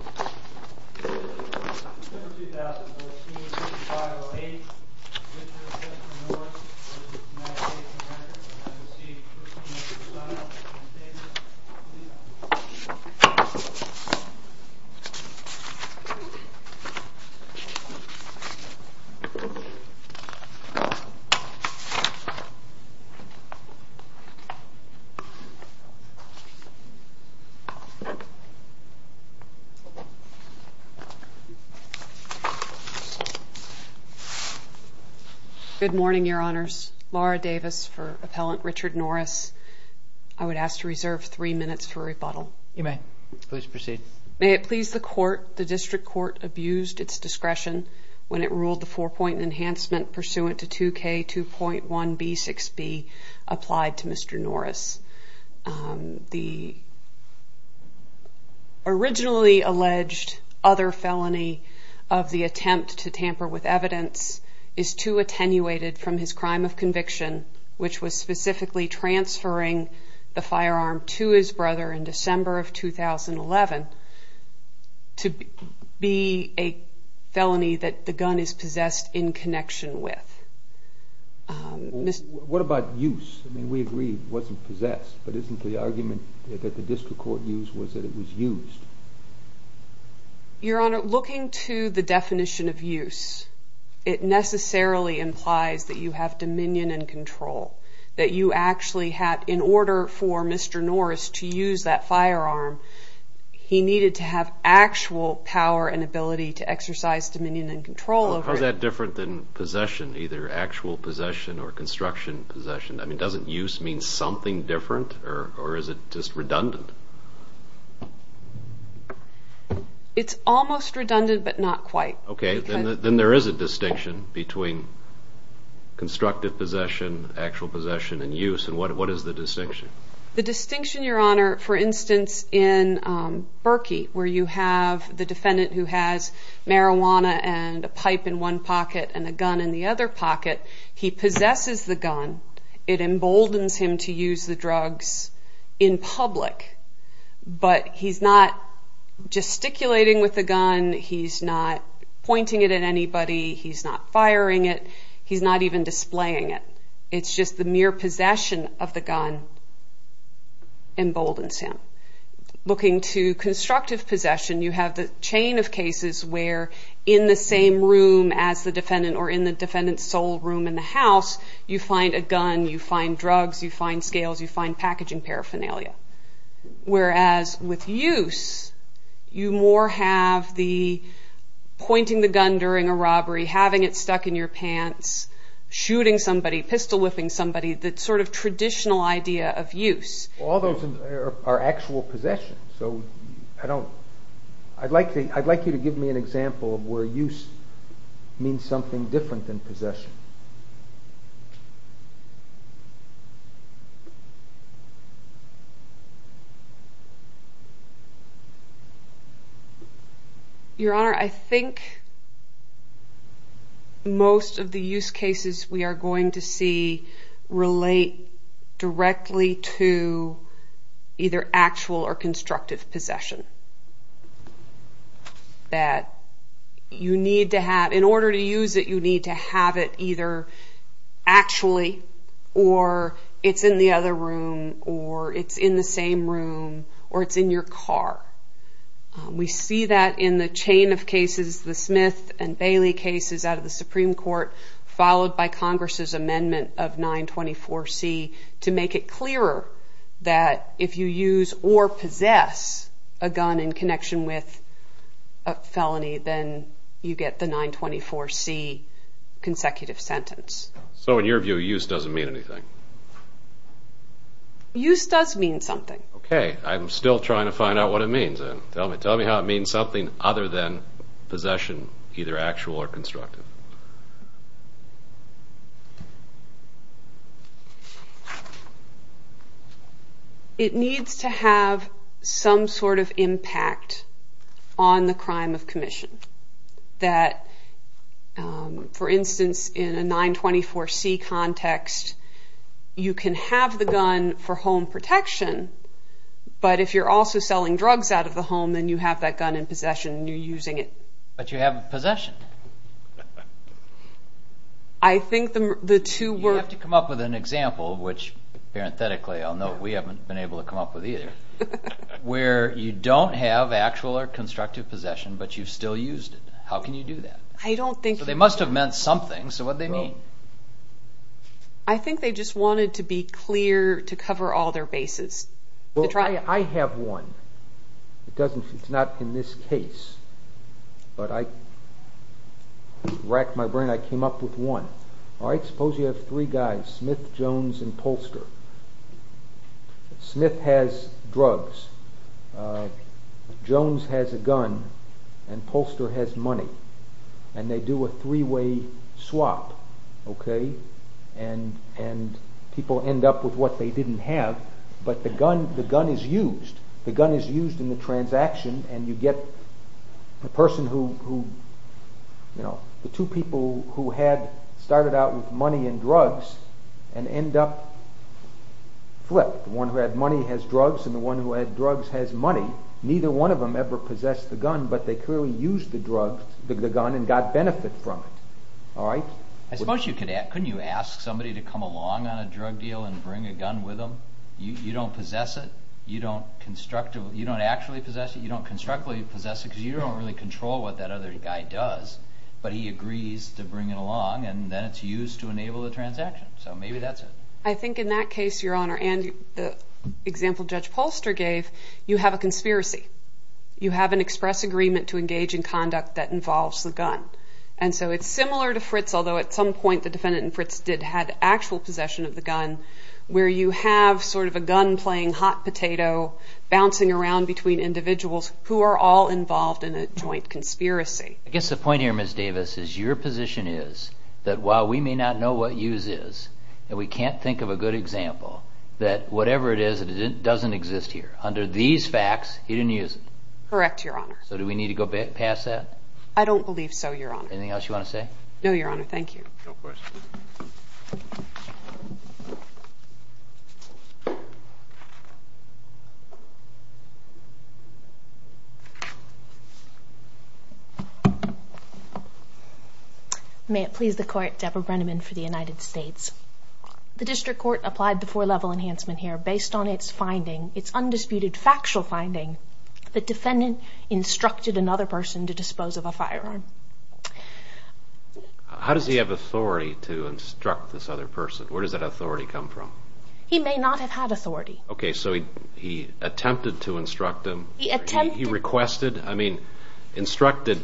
and record and I received person of your sign-off can you save this please.) Good morning, Your Honors. Laura Davis for Appellant Richard Norris. I would ask to reserve three minutes for rebuttal. You may. Please proceed. May it please the Court, the District Court abused its discretion when it ruled the four-point enhancement pursuant to 2K2.1B6B applied to Mr. Norris. The originally alleged other felony of the attempt to tamper with evidence is too attenuated from his crime of conviction which was specifically transferring the firearm to his brother in December of 2011 to be a felony that the gun is possessed in connection with. What about use? I mean we agree it wasn't possessed but isn't the argument that the District Court used was that it was used? Your Honor, looking to the definition of use it necessarily implies that you have dominion and control that you actually had in order for Mr. Norris to use that firearm he needed to have actual power and ability to exercise dominion and control over it. How is that different than possession, either actual possession or construction possession? I mean doesn't use mean something different or is it just redundant? It's almost redundant but not quite. Okay then there is a distinction between constructive possession, actual possession and use and what is the distinction? The distinction, Your Honor, for instance in Berkey where you have the defendant who has marijuana and a pipe in one pocket and a gun in the other pocket, he possesses the gun, it emboldens him to use the drugs in public but he's not gesticulating with the gun, he's not pointing it at anybody, he's not firing it, he's not even displaying it. It's just the mere possession of the gun emboldens him. Looking to constructive possession you have the chain of cases where in the same room as the defendant or in the defendant's sole room in the house you find a gun, you find drugs, you find scales, you find packaging paraphernalia. Whereas with use you more have the pointing the gun during a shooting somebody, pistol whiffing somebody, that sort of traditional idea of use. All those are actual possessions so I'd like you to give me an example of where use means something different than possession. Your Honor, I think most of the use cases we are going to see relate directly to either actual or constructive possession. That you need to have, in order to use it you need to have it either actually or it's in the other room or it's in the same room or it's in your car. We see that in the chain of cases, the Smith and Bailey cases out of the Supreme Court followed by Congress's amendment of 924C to make it clearer that if you use or possess a gun in connection with a felony then you get the 924C consecutive sentence. So in your view use doesn't mean anything? Use does mean something. Okay, I'm still trying to find out what it means. Tell me how it means something other than possession, either actual or constructive. It needs to have some sort of impact on the crime of commission. That for instance in a 924C context you can have the gun for home and possession and you're using it. But you have possession. You have to come up with an example, which parenthetically I'll note we haven't been able to come up with either, where you don't have actual or constructive possession but you've still used it. How can you do that? I don't think. They must have meant something, so what do they mean? I think they just wanted to be clear to cover all their bases. I have one. It's not in this case, but I racked my brain and came up with one. Suppose you have three guys, Smith, Jones, and Polster. Smith has drugs, Jones has a gun, and Polster has money. And they do a deal, but the gun is used. The gun is used in the transaction and you get the two people who had started out with money and drugs and end up flipped. The one who had money has drugs and the one who had drugs has money. Neither one of them ever possessed the gun, but they clearly used the gun and got benefit from it. I suppose you could ask, couldn't you ask somebody to come along on a drug deal and bring a gun with them? You don't possess it, you don't constructively, you don't actually possess it, you don't constructively possess it because you don't really control what that other guy does, but he agrees to bring it along and then it's used to enable the transaction. So maybe that's it. I think in that case, Your Honor, and the example Judge Polster gave, you have a conspiracy. You have an express agreement to engage in conduct that involves the gun. And so it's similar to Fritz, although at some point the defendant in Fritz did have actual possession of the gun, where you have sort of a gun playing hot potato, bouncing around between individuals who are all involved in a joint conspiracy. I guess the point here, Ms. Davis, is your position is that while we may not know what use is, and we can't think of a good example, that whatever it is, it doesn't exist here. Under these facts, he didn't use it. Correct, Your Honor. So do we need to go past that? I don't believe so, Your Honor. Anything else you want to say? No, Your Honor. Thank you. No questions. May it please the Court, Deborah Brenneman for the United States. The District Court applied the four-level enhancement here based on its finding, its undisputed factual finding, the defendant instructed another person to dispose of a firearm. How does he have authority to instruct this other person? Where does that authority come from? He may not have had authority. Okay, so he attempted to instruct him? He attempted. He requested? I mean, instructed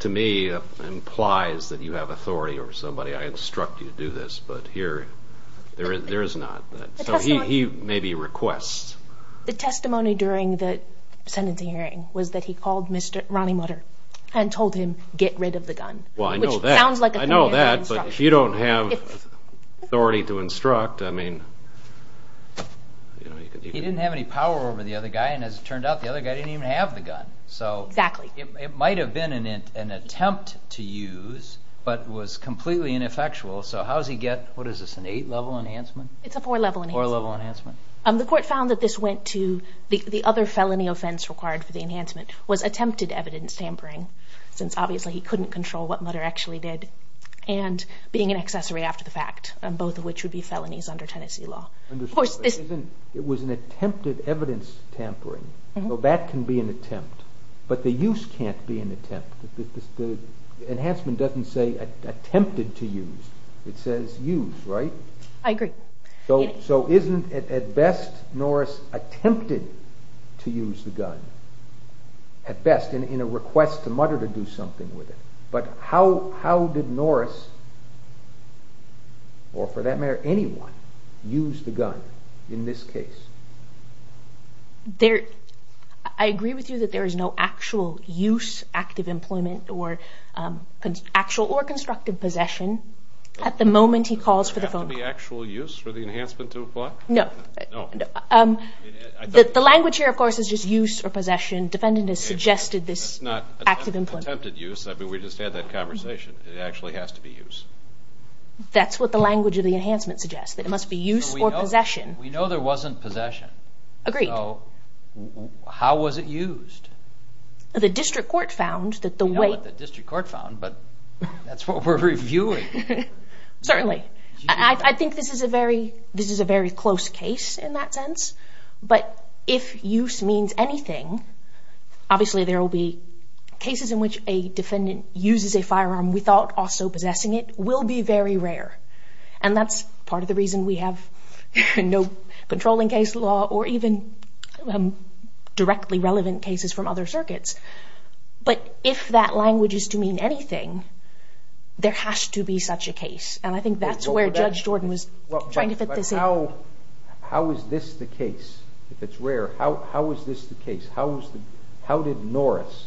to me implies that you have authority over somebody. I instruct you to do this, but here there is not. So he maybe requests. The testimony during the sentencing hearing was that he called Mr. Ronnie Mutter and told him, get rid of the gun. Well, I know that, but if you don't have authority to instruct, I mean... He didn't have any power over the other guy, and as it turned out, the other guy didn't even have the gun. So it might have been an attempt to use, but was completely ineffectual. So how does he get, what is this, an eight-level enhancement? It's a four-level enhancement. The court found that this went to the other felony offense required for the enhancement was attempted evidence tampering, since obviously he couldn't control what Mutter actually did, and being an accessory after the fact, both of which would be felonies under Tennessee law. It was an attempted evidence tampering, so that can be an attempt, but the use can't be an attempt. The enhancement doesn't say attempted to use. It says use, right? I agree. So isn't it at best Norris attempted to use the gun, at best, in a request to Mutter to do something with it, but how did Norris, or for that matter, anyone, use the gun in this case? I agree with you that there is no actual use, active employment, or actual or constructive possession, at the moment he calls for the phone call. Does it have to be actual use for the enhancement to apply? No. The language here, of course, is just use or possession. Defendant has suggested this active employment. It's not attempted use. I mean, we just had that conversation. It actually has to be use. That's what the language of the enhancement suggests, that it must be use or possession. We know there wasn't possession. Agreed. So how was it used? The district court found that the way... We know what the district court found, but that's what we're reviewing. Certainly. I think this is a very close case in that sense, but if use means anything, obviously there will be cases in which a defendant uses a controlling case law, or even directly relevant cases from other circuits. But if that language is to mean anything, there has to be such a case. And I think that's where Judge Jordan was trying to fit this in. But how is this the case, if it's rare? How is this the case? How did Norris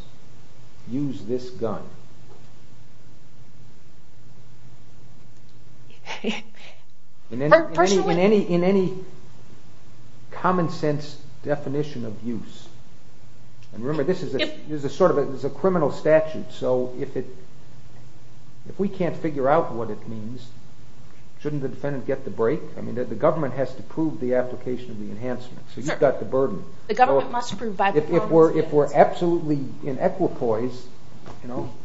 use this gun? In any common sense definition of use. And remember, this is a criminal statute, so if we can't figure out what it means, shouldn't the defendant get the break? The government has to prove the application of the enhancement, so you've got the burden. If we're absolutely inequipoise,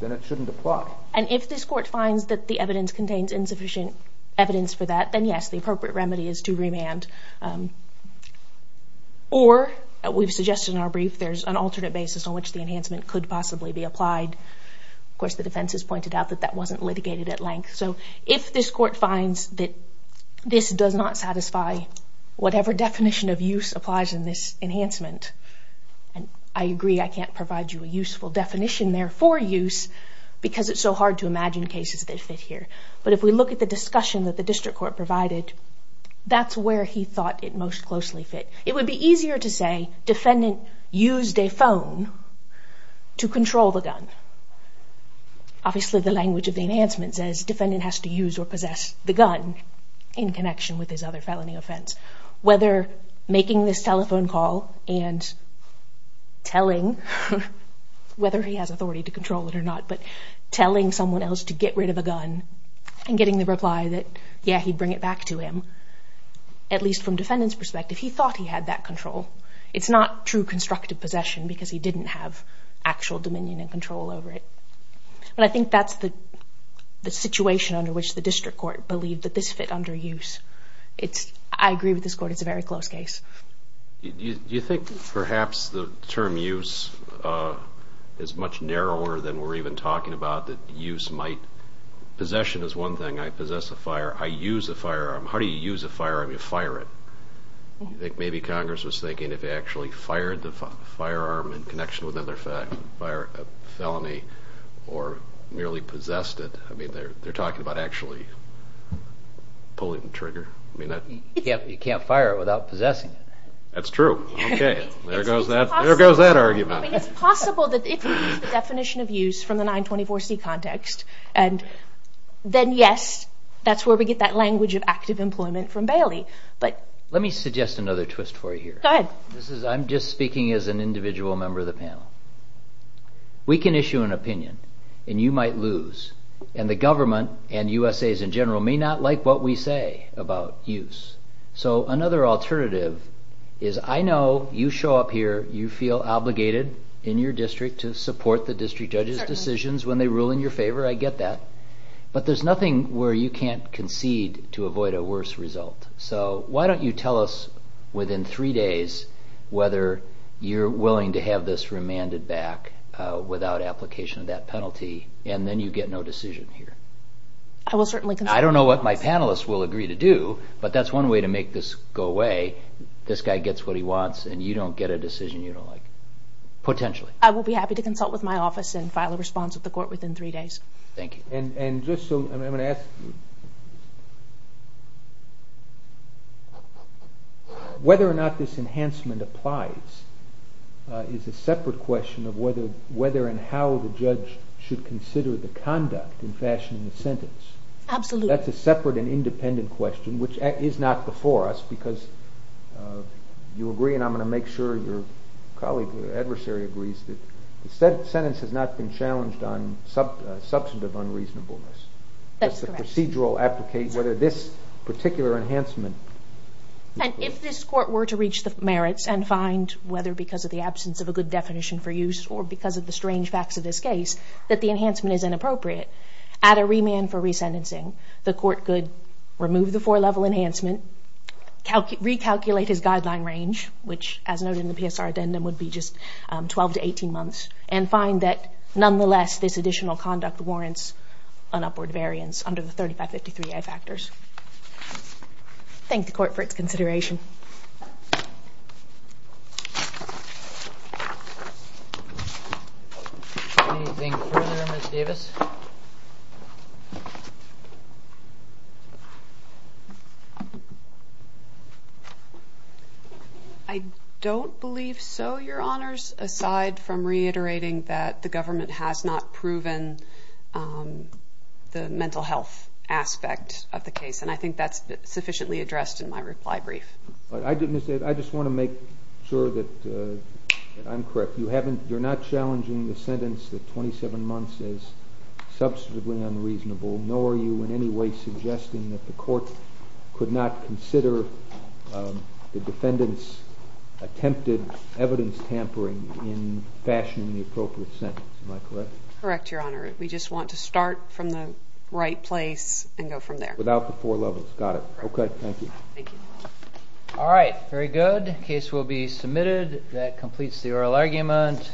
then it shouldn't apply. And if this court finds that the evidence contains insufficient evidence for that, then yes, the appropriate remedy is to remand. Or, we've suggested in our brief, there's an alternate basis on which the does not satisfy whatever definition of use applies in this enhancement. And I agree, I can't provide you a useful definition there for use, because it's so hard to imagine cases that fit here. But if we look at the discussion that the district court provided, that's where he thought it most closely fit. It would be easier to say, defendant used a phone to control the gun. Obviously, the language of the enhancement says defendant has to use or possess the gun in connection with his other felony offense. Whether making this telephone call and telling, whether he has authority to control it or not, but telling someone else to get rid of a gun and getting the reply that, yeah, he'd bring it back to him, at least from defendant's perspective, he thought he had that control. It's not true constructive possession, because he didn't have actual dominion and control over it. But I think that's the situation under which the district court believed that this fit under use. I agree with this court, it's a very close case. Do you think perhaps the term use is much narrower than we're even talking about, that use might... Possession is one thing, I possess a fire, I use a firearm. How do you use a firearm, you fire it? Do you think maybe Congress was thinking if they actually fired the firearm in connection with another felony or merely possessed it, I mean, they're talking about actually pulling the trigger? You can't fire it without possessing it. That's true. Okay, there goes that argument. It's possible that if we use the definition of use from the 924C context, then yes, that's where we get that language of active employment from Bailey. Let me suggest another twist for you here. Go ahead. I'm just speaking as an individual member of the panel. We can issue an opinion and you might lose, and the government and USAs in general may not like what we say about use. So another alternative is I know you show up here, you feel obligated in your district to support the district judge's decisions when they rule in your favor, I get that, but there's nothing where you can't concede to avoid a worse result. So why don't you tell us within three days whether you're willing to have this remanded back without application of that penalty and then you get no decision here. I don't know what my panelists will agree to do, but that's one way to make this go away. This guy gets what he wants and you don't get a decision you don't like, potentially. I will be happy to consult with my office and file a response with the court within three days. Thank you. And just so, I'm going to ask you, whether or not this enhancement applies is a separate question of whether and how the judge should consider the conduct in fashioning the sentence. Absolutely. That's a separate and independent question, which is not before us, because you agree and I'm going to make sure your colleague or adversary agrees that the sentence has not been challenged on substantive unreasonableness. That's correct. Does the procedural application, whether this particular enhancement... And if this court were to reach the merits and find, whether because of the absence of a good definition for use or because of the strange facts of this case, that the enhancement is inappropriate, add a remand for resentencing, the court could remove the four-level enhancement, recalculate his guideline range, which as noted in the PSR addendum would be just 12 to 18 months, and find that nonetheless this additional conduct warrants an upward variance under the 3553A factors. Thank the court for its consideration. Anything further, Ms. Davis? I don't believe so, your honors, aside from reiterating that the government has not proven the mental health aspect of the case, and I think that's sufficiently addressed in my reply brief. I just want to make sure that I'm correct. You're not challenging the sentence that 27 months is substantively unreasonable, nor are you in any way suggesting that the court could not consider the defendant's attempted evidence tampering in fashioning the appropriate sentence. Am I correct? Correct, your honor. We just want to start from the right place and go from there. Without the four levels. Got it. Okay, thank you. All right, very good. Case will be submitted. That completes the oral argument.